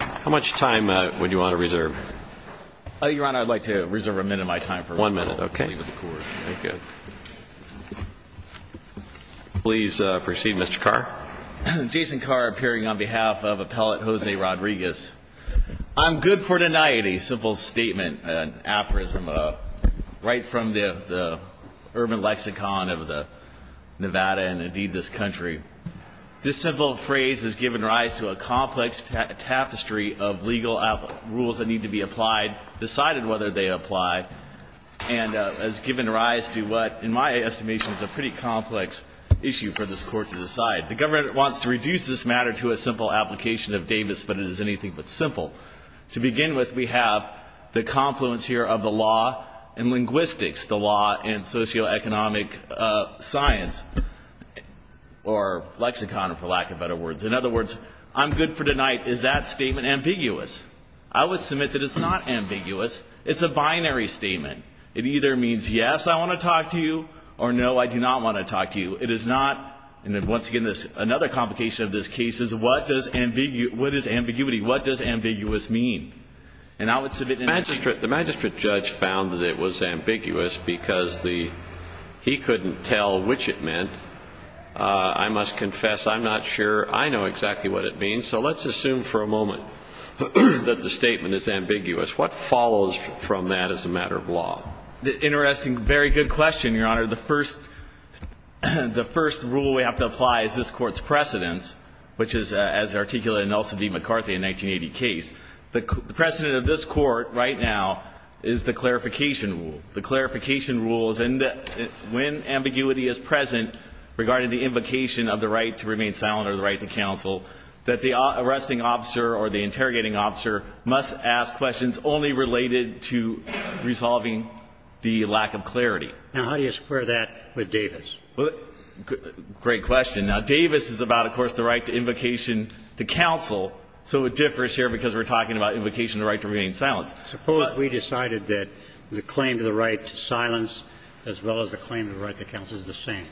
How much time would you want to reserve? Your Honor, I'd like to reserve a minute of my time. One minute, okay. Please proceed, Mr. Carr. Jason Carr, appearing on behalf of Appellate Jose Rodriguez. I'm good for urban lexicon of the Nevada and indeed this country. This simple phrase has given rise to a complex tapestry of legal rules that need to be applied, decided whether they apply, and has given rise to what, in my estimation, is a pretty complex issue for this Court to decide. The government wants to reduce this matter to a simple application of Davis, but it is anything but simple. To begin with, we have the confluence here of the law and linguistics, the law and socio-economic science, or lexicon for lack of better words. In other words, I'm good for tonight. Is that statement ambiguous? I would submit that it's not ambiguous. It's a binary statement. It either means yes, I want to talk to you, or no, I do not want to talk to you. It is not, and once again, this is my opinion. Another complication of this case is, what is ambiguity? What does ambiguous mean? And I would submit— The magistrate judge found that it was ambiguous because he couldn't tell which it meant. I must confess, I'm not sure I know exactly what it means, so let's assume for a moment that the statement is ambiguous. What follows from that as a matter of law? Interesting, very good question, Your Honor. The first rule we have to apply is this Court's precedence, which is as articulated in Nelson v. McCarthy in the 1980 case. The precedent of this Court right now is the clarification rule. And when ambiguity is present regarding the invocation of the right to remain silent or the right to counsel, that the arresting officer or the interrogating officer must ask questions only related to resolving the lack of clarity. Now, how do you square that with Davis? Great question. Now, Davis is about, of course, the right to invocation to counsel, so it differs here because we're talking about invocation of the right to remain silent. Suppose we decided that the claim to the right to silence as well as the claim to the right to counsel is the same.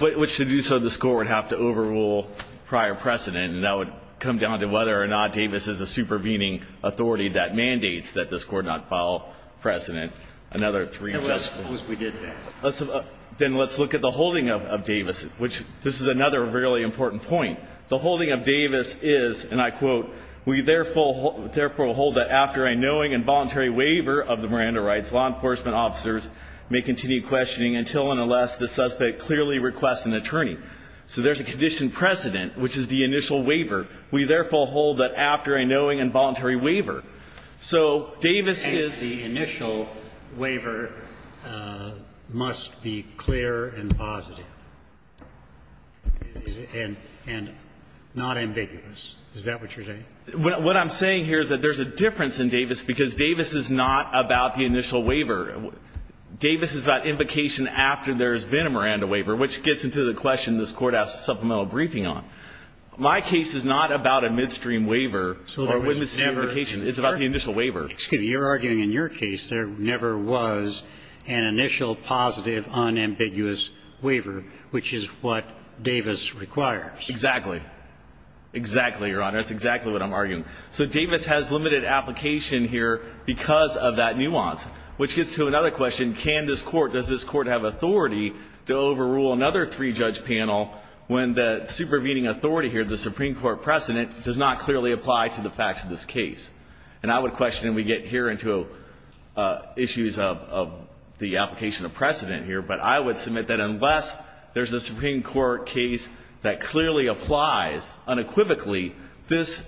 Which to do so, this Court would have to overrule prior precedent, and that would come down to whether or not Davis is a supervening authority that mandates that this Court not follow precedent. Suppose we did that. Then let's look at the holding of Davis, which this is another really important point. The holding of Davis is, and I quote, We therefore hold that after a knowing and voluntary waiver of the Miranda rights, law enforcement officers may continue questioning until and unless the suspect clearly requests an attorney. So there's a conditioned precedent, which is the initial waiver. We therefore hold that after a knowing and voluntary waiver. So Davis is the initial waiver must be clear and positive and not ambiguous. Is that what you're saying? What I'm saying here is that there's a difference in Davis because Davis is not about the initial waiver. Davis is about invocation after there's been a Miranda waiver, which gets into the question this Court asked a supplemental briefing on. My case is not about a midstream waiver or witness invocation. It's about the initial waiver. Excuse me. You're arguing in your case there never was an initial positive unambiguous waiver, which is what Davis requires. Exactly. Exactly, Your Honor. That's exactly what I'm arguing. So Davis has limited application here because of that nuance, which gets to another question. Does this Court have authority to overrule another three-judge panel when the supervening authority here, the Supreme Court precedent, does not clearly apply to the facts of this case? And I would question, and we get here into issues of the application of precedent here, but I would submit that unless there's a Supreme Court case that clearly applies unequivocally, this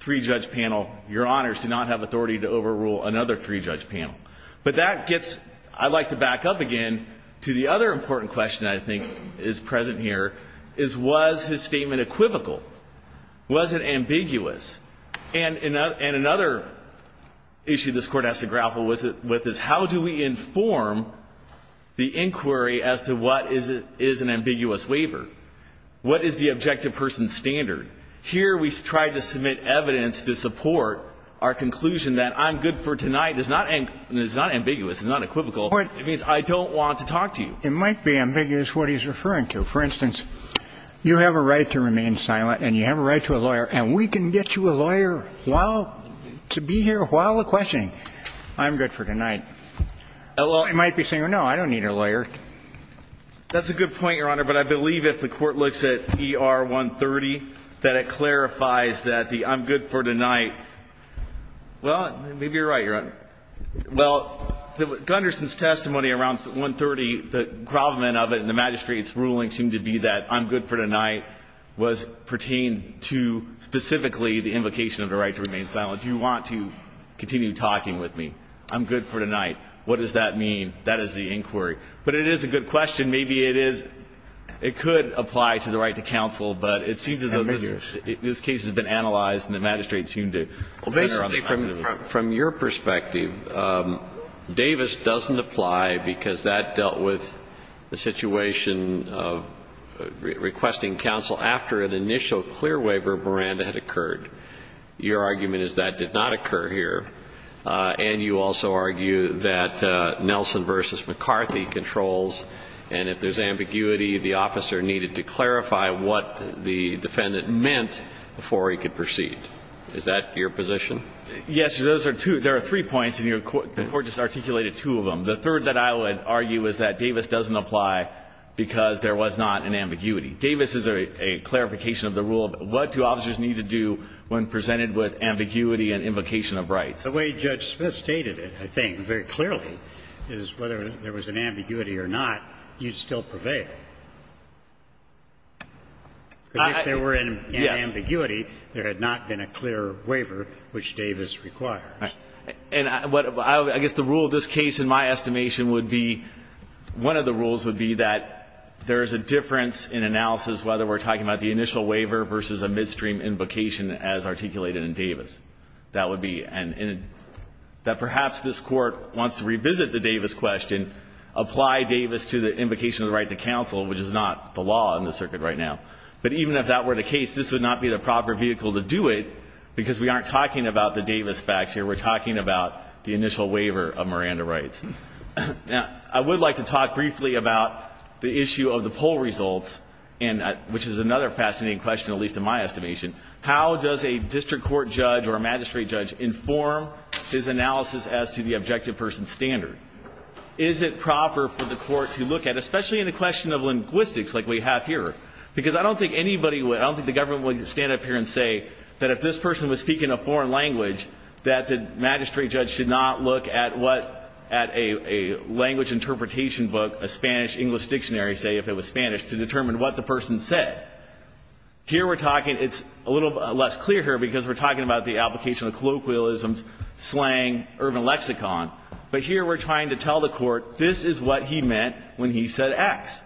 three-judge panel, Your Honors, do not have authority to overrule another three-judge panel. But that gets, I'd like to back up again to the other important question I think is present here, is was his statement equivocal? Was it ambiguous? And another issue this Court has to grapple with is how do we inform the inquiry as to what is an ambiguous waiver? What is the objective person's standard? Here we tried to submit evidence to support our conclusion that I'm good for tonight. It's not ambiguous. It's not equivocal. It means I don't want to talk to you. It might be ambiguous what he's referring to. For instance, you have a right to remain silent and you have a right to a lawyer, and we can get you a lawyer to be here while questioning. I'm good for tonight. It might be saying, no, I don't need a lawyer. That's a good point, Your Honor, but I believe if the Court looks at ER 130, that it clarifies that the I'm good for tonight, well, maybe you're right, Your Honor. Well, Gunderson's testimony around 130, the gravamen of it and the magistrate's ruling seemed to be that I'm good for tonight was pertaining to specifically the invocation of the right to remain silent. Do you want to continue talking with me? I'm good for tonight. What does that mean? That is the inquiry. But it is a good question. Maybe it is. It could apply to the right to counsel, but it seems as though this case has been analyzed and the magistrate seemed to center on the fact of it. Well, basically, from your perspective, Davis doesn't apply because that dealt with the situation of requesting counsel after an initial clear waiver of Miranda had occurred. Your argument is that did not occur here. And you also argue that Nelson v. McCarthy controls, and if there's ambiguity, the officer needed to clarify what the defendant meant before he could proceed. Is that your position? Yes, there are three points, and the Court just articulated two of them. The third that I would argue is that Davis doesn't apply because there was not an ambiguity. Davis is a clarification of the rule of what do officers need to do when presented with ambiguity and invocation of rights. The way Judge Smith stated it, I think, very clearly, is whether there was an ambiguity or not, you'd still prevail. If there were an ambiguity, there had not been a clear waiver, which Davis requires. And I guess the rule of this case, in my estimation, would be one of the rules would be that there is a difference in analysis whether we're talking about the initial waiver in Davis. That would be, and that perhaps this Court wants to revisit the Davis question, apply Davis to the invocation of the right to counsel, which is not the law in the circuit right now. But even if that were the case, this would not be the proper vehicle to do it because we aren't talking about the Davis facts here. We're talking about the initial waiver of Miranda rights. Now, I would like to talk briefly about the issue of the poll results, which is another fascinating question, at least in my estimation. How does a district court judge or a magistrate judge inform his analysis as to the objective person's standard? Is it proper for the court to look at, especially in a question of linguistics like we have here, because I don't think anybody would, I don't think the government would stand up here and say that if this person was speaking a foreign language, that the magistrate judge should not look at what, at a language interpretation book, a Spanish-English dictionary, say, if it was Spanish, to determine what the person said. Here we're talking, it's a little less clear here because we're talking about the application of colloquialisms, slang, urban lexicon, but here we're trying to tell the court this is what he meant when he said X.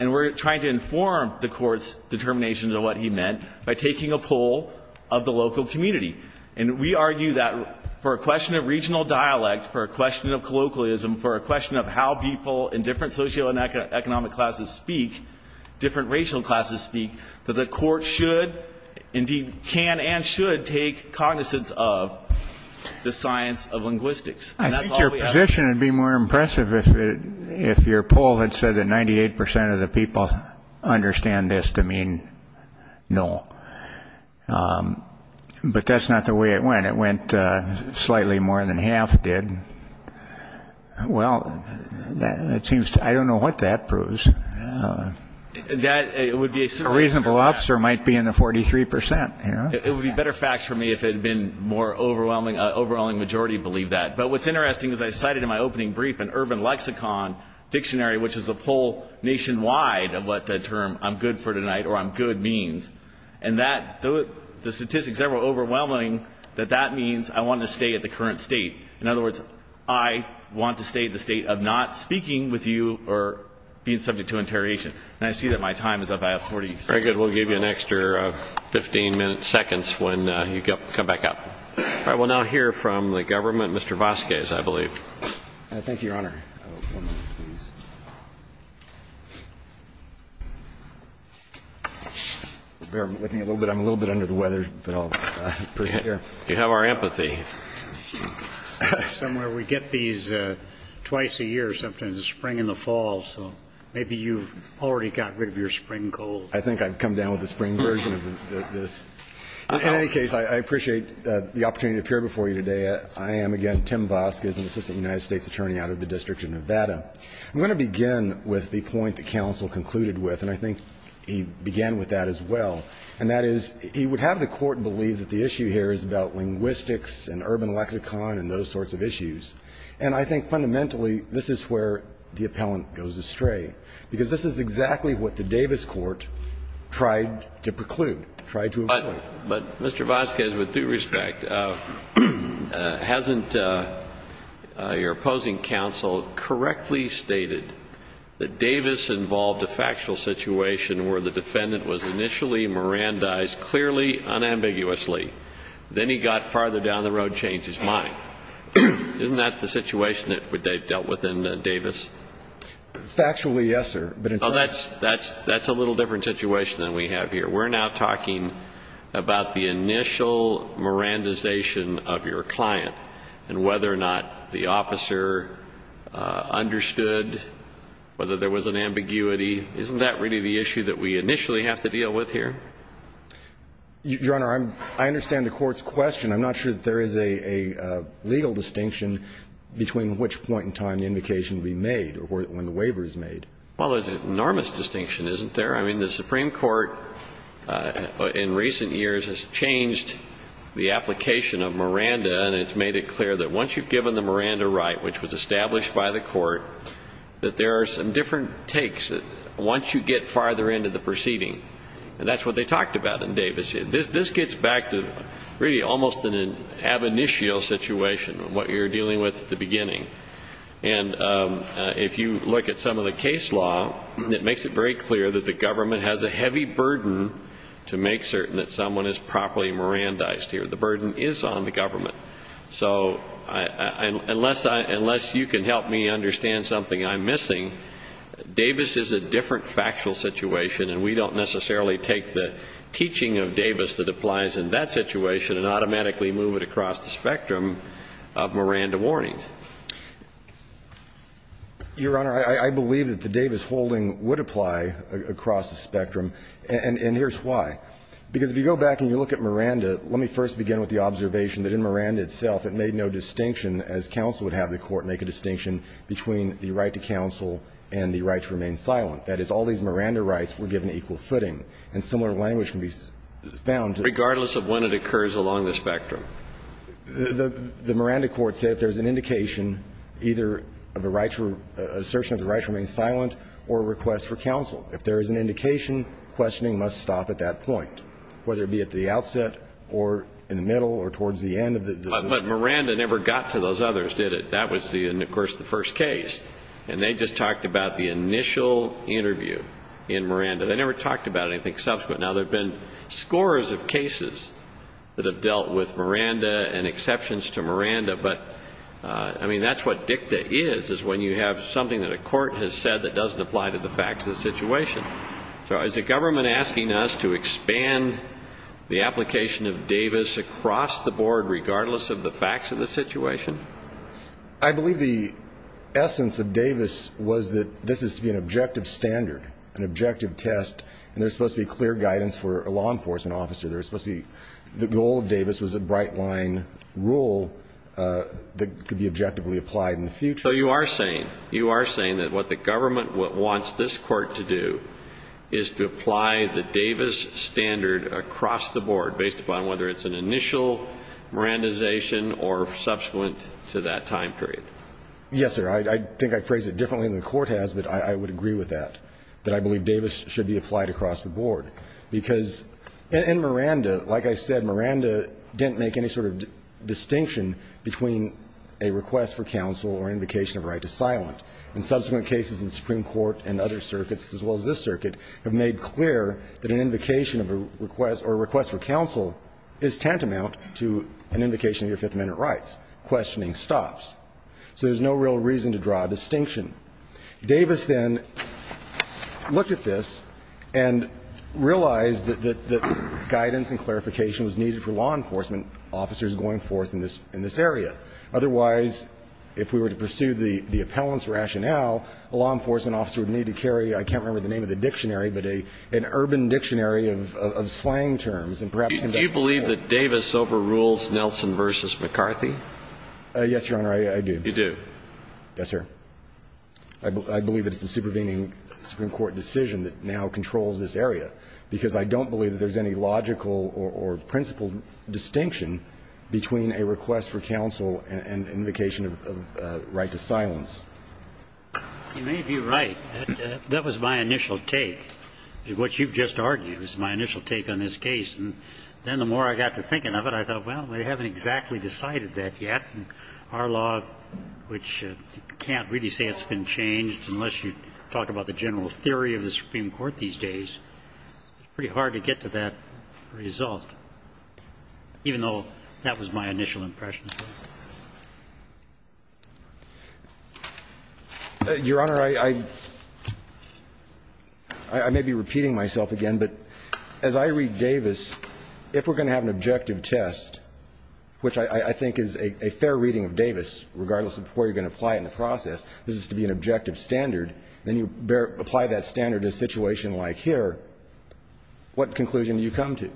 And we're trying to inform the court's determination of what he meant by taking a poll of the local community. And we argue that for a question of regional dialect, for a question of colloquialism, for a question of how people in different socioeconomic classes speak, different racial classes speak, that the court should, indeed can and should, take cognizance of the science of linguistics. And that's all we have. I think your position would be more impressive if your poll had said that 98 percent of the people understand this to mean no. But that's not the way it went. It went slightly more than half did. Well, that seems to, I don't know what that proves. A reasonable officer might be in the 43 percent. It would be better facts for me if it had been more overwhelming majority believe that. But what's interesting is I cited in my opening brief an urban lexicon dictionary, which is a poll nationwide of what the term I'm good for tonight or I'm good means. And the statistics there were overwhelming that that means I want to stay at the current state. In other words, I want to stay at the state of not speaking with you or being subject to interrogation. And I see that my time is up. I have 40 seconds. Very good. We'll give you an extra 15 minutes, seconds, when you come back up. All right. We'll now hear from the government. Mr. Vasquez, I believe. Thank you, Your Honor. One moment, please. Bear with me a little bit. I'm a little bit under the weather, but I'll persevere. You have our empathy. Somewhere we get these twice a year. Sometimes it's spring and the fall, so maybe you've already got rid of your spring cold. I think I've come down with the spring version of this. In any case, I appreciate the opportunity to appear before you today. I am, again, Tim Vasquez, an assistant United States attorney out of the District of Nevada. I'm going to begin with the point that counsel concluded with, and I think he began with that as well, and that is he would have the court believe that the issue here is about linguistics and urban lexicon and those sorts of issues. And I think fundamentally this is where the appellant goes astray, because this is exactly what the Davis court tried to preclude, tried to avoid. But, Mr. Vasquez, with due respect, hasn't your opposing counsel correctly stated that Davis involved a factual situation where the defendant was initially mirandized clearly, unambiguously, then he got farther down the road, changed his mind? Isn't that the situation that they dealt with in Davis? Factually, yes, sir. But in fact that's a little different situation than we have here. We're now talking about the initial mirandization of your client and whether or not the officer understood whether there was an ambiguity. Isn't that really the issue that we initially have to deal with here? Your Honor, I understand the court's question. I'm not sure that there is a legal distinction between which point in time the invocation will be made or when the waiver is made. Well, there's an enormous distinction, isn't there? I mean, the Supreme Court in recent years has changed the application of Miranda and has made it clear that once you've given the Miranda right, which was established by the court, that there are some different takes once you get farther into the proceeding. And that's what they talked about in Davis. This gets back to really almost an ab initio situation of what you're dealing with at the beginning. And if you look at some of the case law, it makes it very clear that the government has a heavy burden to make certain that someone is properly Mirandized here. The burden is on the government. So unless you can help me understand something I'm missing, Davis is a different factual situation, and we don't necessarily take the teaching of Davis that applies in that situation and automatically move it across the spectrum of Miranda warnings. Your Honor, I believe that the Davis holding would apply across the spectrum. And here's why. Because if you go back and you look at Miranda, let me first begin with the observation that in Miranda itself it made no distinction, as counsel would have the court make a distinction, between the right to counsel and the right to remain silent. That is, all these Miranda rights were given equal footing. And similar language can be found. Regardless of when it occurs along the spectrum. The Miranda court said if there's an indication either of a right for an assertion of the right to remain silent or a request for counsel. If there is an indication, questioning must stop at that point, whether it be at the outset or in the middle or towards the end of the. But Miranda never got to those others, did it? That was, of course, the first case. And they just talked about the initial interview in Miranda. They never talked about anything subsequent. Now, there have been scores of cases that have dealt with Miranda and exceptions to Miranda, but, I mean, that's what dicta is, is when you have something that a court has said that doesn't apply to the facts of the situation. So is the government asking us to expand the application of Davis across the board regardless of the facts of the situation? I believe the essence of Davis was that this is to be an objective standard, an objective test, and there's supposed to be clear guidance for a law enforcement officer. There's supposed to be the goal of Davis was a bright line rule that could be objectively applied in the future. So you are saying, you are saying that what the government wants this court to do is to apply the Davis standard across the board based upon whether it's an initial Mirandization or subsequent to that time period? Yes, sir. I think I phrased it differently than the court has, but I would agree with that, that I believe Davis should be applied across the board, because in Miranda, like I said, Miranda didn't make any sort of distinction between a request for counsel or an invocation of a right to silent. And subsequent cases in the Supreme Court and other circuits, as well as this circuit, have made clear that an invocation of a request or a request for counsel is tantamount to an invocation of your Fifth Amendment rights. Questioning stops. So there's no real reason to draw a distinction. Davis then looked at this and realized that guidance and clarification was needed for law enforcement officers going forth in this area. Otherwise, if we were to pursue the appellant's rationale, a law enforcement officer would need to carry, I can't remember the name of the dictionary, but an urban dictionary of slang terms and perhaps can be helpful. Do you believe that Davis overrules Nelson v. McCarthy? Yes, Your Honor, I do. You do? Yes, sir. I believe it's the supervening Supreme Court decision that now controls this area, because I don't believe there's any logical or principled distinction between a request for counsel and an invocation of right to silence. You may be right. That was my initial take. What you've just argued was my initial take on this case. And then the more I got to thinking of it, I thought, well, we haven't exactly decided that yet. And our law, which you can't really say it's been changed unless you talk about the general theory of the Supreme Court these days, it's pretty hard to get to that result, even though that was my initial impression. Your Honor, I may be repeating myself again, but as I read Davis, if we're going to have an objective test, which I think is a fair reading of Davis, regardless of where you're going to apply it in the process, this is to be an objective standard, then you apply that standard to a situation like here, what conclusion do you come to?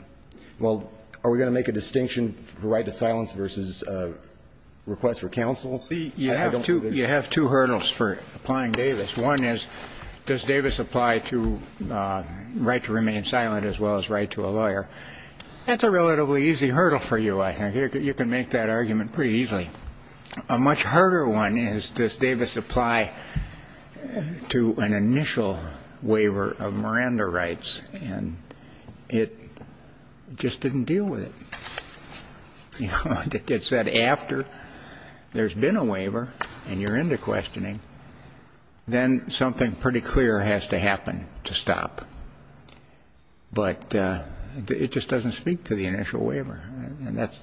Well, are we going to make a distinction for right to silence versus request for counsel? You have two hurdles for applying Davis. One is, does Davis apply to right to remain silent as well as right to a lawyer? That's a relatively easy hurdle for you, I think. You can make that argument pretty easily. A much harder one is, does Davis apply to an initial waiver of Miranda rights? And it just didn't deal with it. It said after there's been a waiver and you're into questioning, then something pretty clear has to happen to stop. But it just doesn't speak to the initial waiver, and that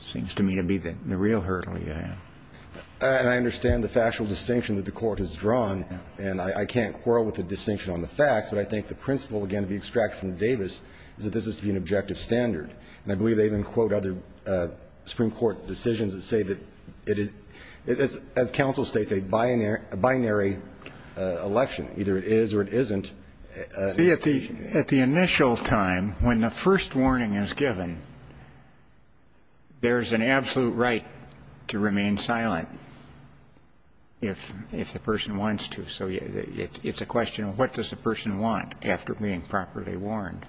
seems to me to be the real hurdle you have. And I understand the factual distinction that the Court has drawn, and I can't quarrel with the distinction on the facts, but I think the principle, again, to be extracted from Davis is that this is to be an objective standard. And I believe they even quote other Supreme Court decisions that say that it is, as counsel states, a binary election. Either it is or it isn't. At the initial time, when the first warning is given, there's an absolute right to remain silent if the person wants to. So it's a question of what does the person want after being properly warned.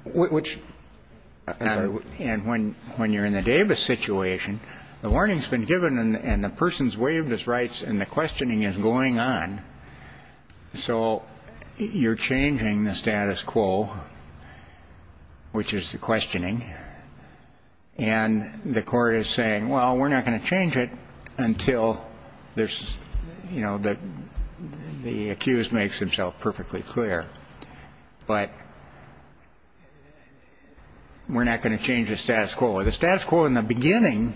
And when you're in the Davis situation, the warning's been given and the person's been waived as rights and the questioning is going on, so you're changing the status quo, which is the questioning, and the Court is saying, well, we're not going to change it until there's, you know, the accused makes himself perfectly clear. But we're not going to change the status quo. The status quo in the beginning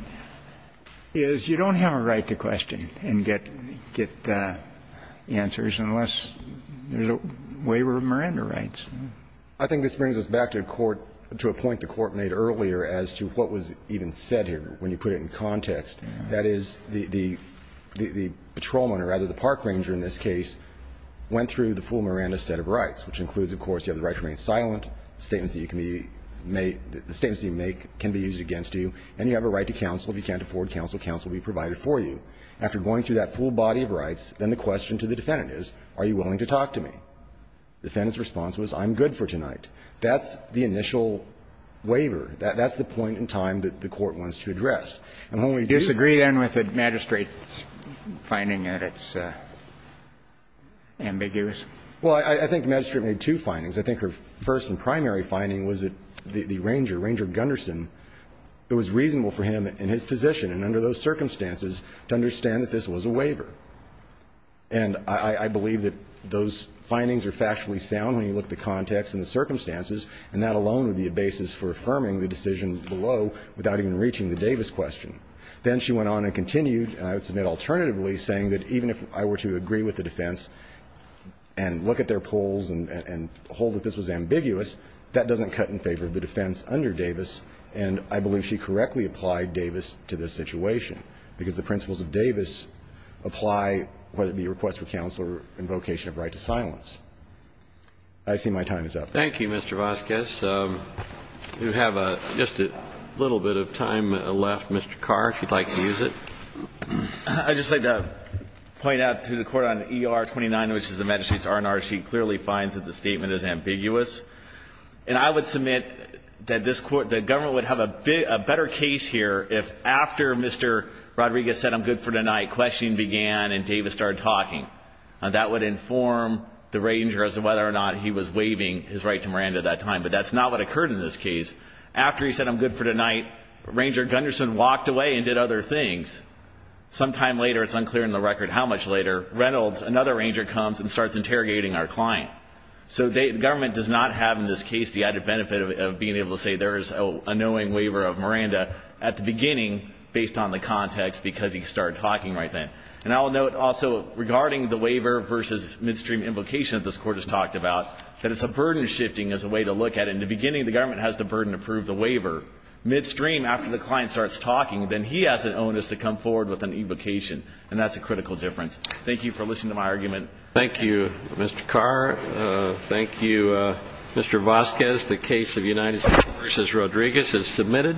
is you don't have a right to question and get answers unless there's a waiver of Miranda rights. I think this brings us back to a court to a point the Court made earlier as to what was even said here when you put it in context. That is, the patrolman or rather the park ranger in this case went through the full Miranda set of rights, which includes, of course, you have the right to remain silent, statements that you can be made, the statements that you make can be used against you, and you have a right to counsel. If you can't afford counsel, counsel will be provided for you. After going through that full body of rights, then the question to the defendant is, are you willing to talk to me? The defendant's response was, I'm good for tonight. That's the initial waiver. That's the point in time that the Court wants to address. And when we do that. Kennedy. Do you disagree, then, with the magistrate's finding that it's ambiguous? Well, I think the magistrate made two findings. I think her first and primary finding was that the ranger, Ranger Gunderson, it was reasonable for him in his position and under those circumstances to understand that this was a waiver. And I believe that those findings are factually sound when you look at the context and the circumstances, and that alone would be a basis for affirming the decision below without even reaching the Davis question. Then she went on and continued, and I would submit alternatively, saying that even if I were to agree with the defense and look at their polls and hold that this was ambiguous, that doesn't cut in favor of the defense under Davis, and I believe she correctly applied Davis to this situation, because the principles of Davis apply whether it be request for counsel or invocation of right to silence. I see my time is up. Thank you, Mr. Vasquez. We have just a little bit of time left. Mr. Carr, if you'd like to use it. I'd just like to point out to the Court on ER-29, which is the magistrate's R&R sheet, clearly finds that the statement is ambiguous. And I would submit that this Court, the government would have a better case here if after Mr. Rodriguez said, I'm good for tonight, questioning began and Davis started talking. That would inform the ranger as to whether or not he was waiving his right to Miranda at that time. But that's not what occurred in this case. After he said, I'm good for tonight, Ranger Gunderson walked away and did other things. Sometime later, it's unclear in the record how much later, Reynolds, another ranger comes and starts interrogating our client. So the government does not have in this case the added benefit of being able to say there is a knowing waiver of Miranda at the beginning, based on the context, because he started talking right then. And I'll note also, regarding the waiver versus midstream invocation that this Court has talked about, that it's a burden shifting as a way to look at it. In the beginning, the government has the burden to prove the waiver. Midstream, after the client starts talking, then he has an onus to come forward with an invocation. And that's a critical difference. Thank you for listening to my argument. Thank you, Mr. Carr. Thank you, Mr. Vasquez. The case of United States v. Rodriguez is submitted.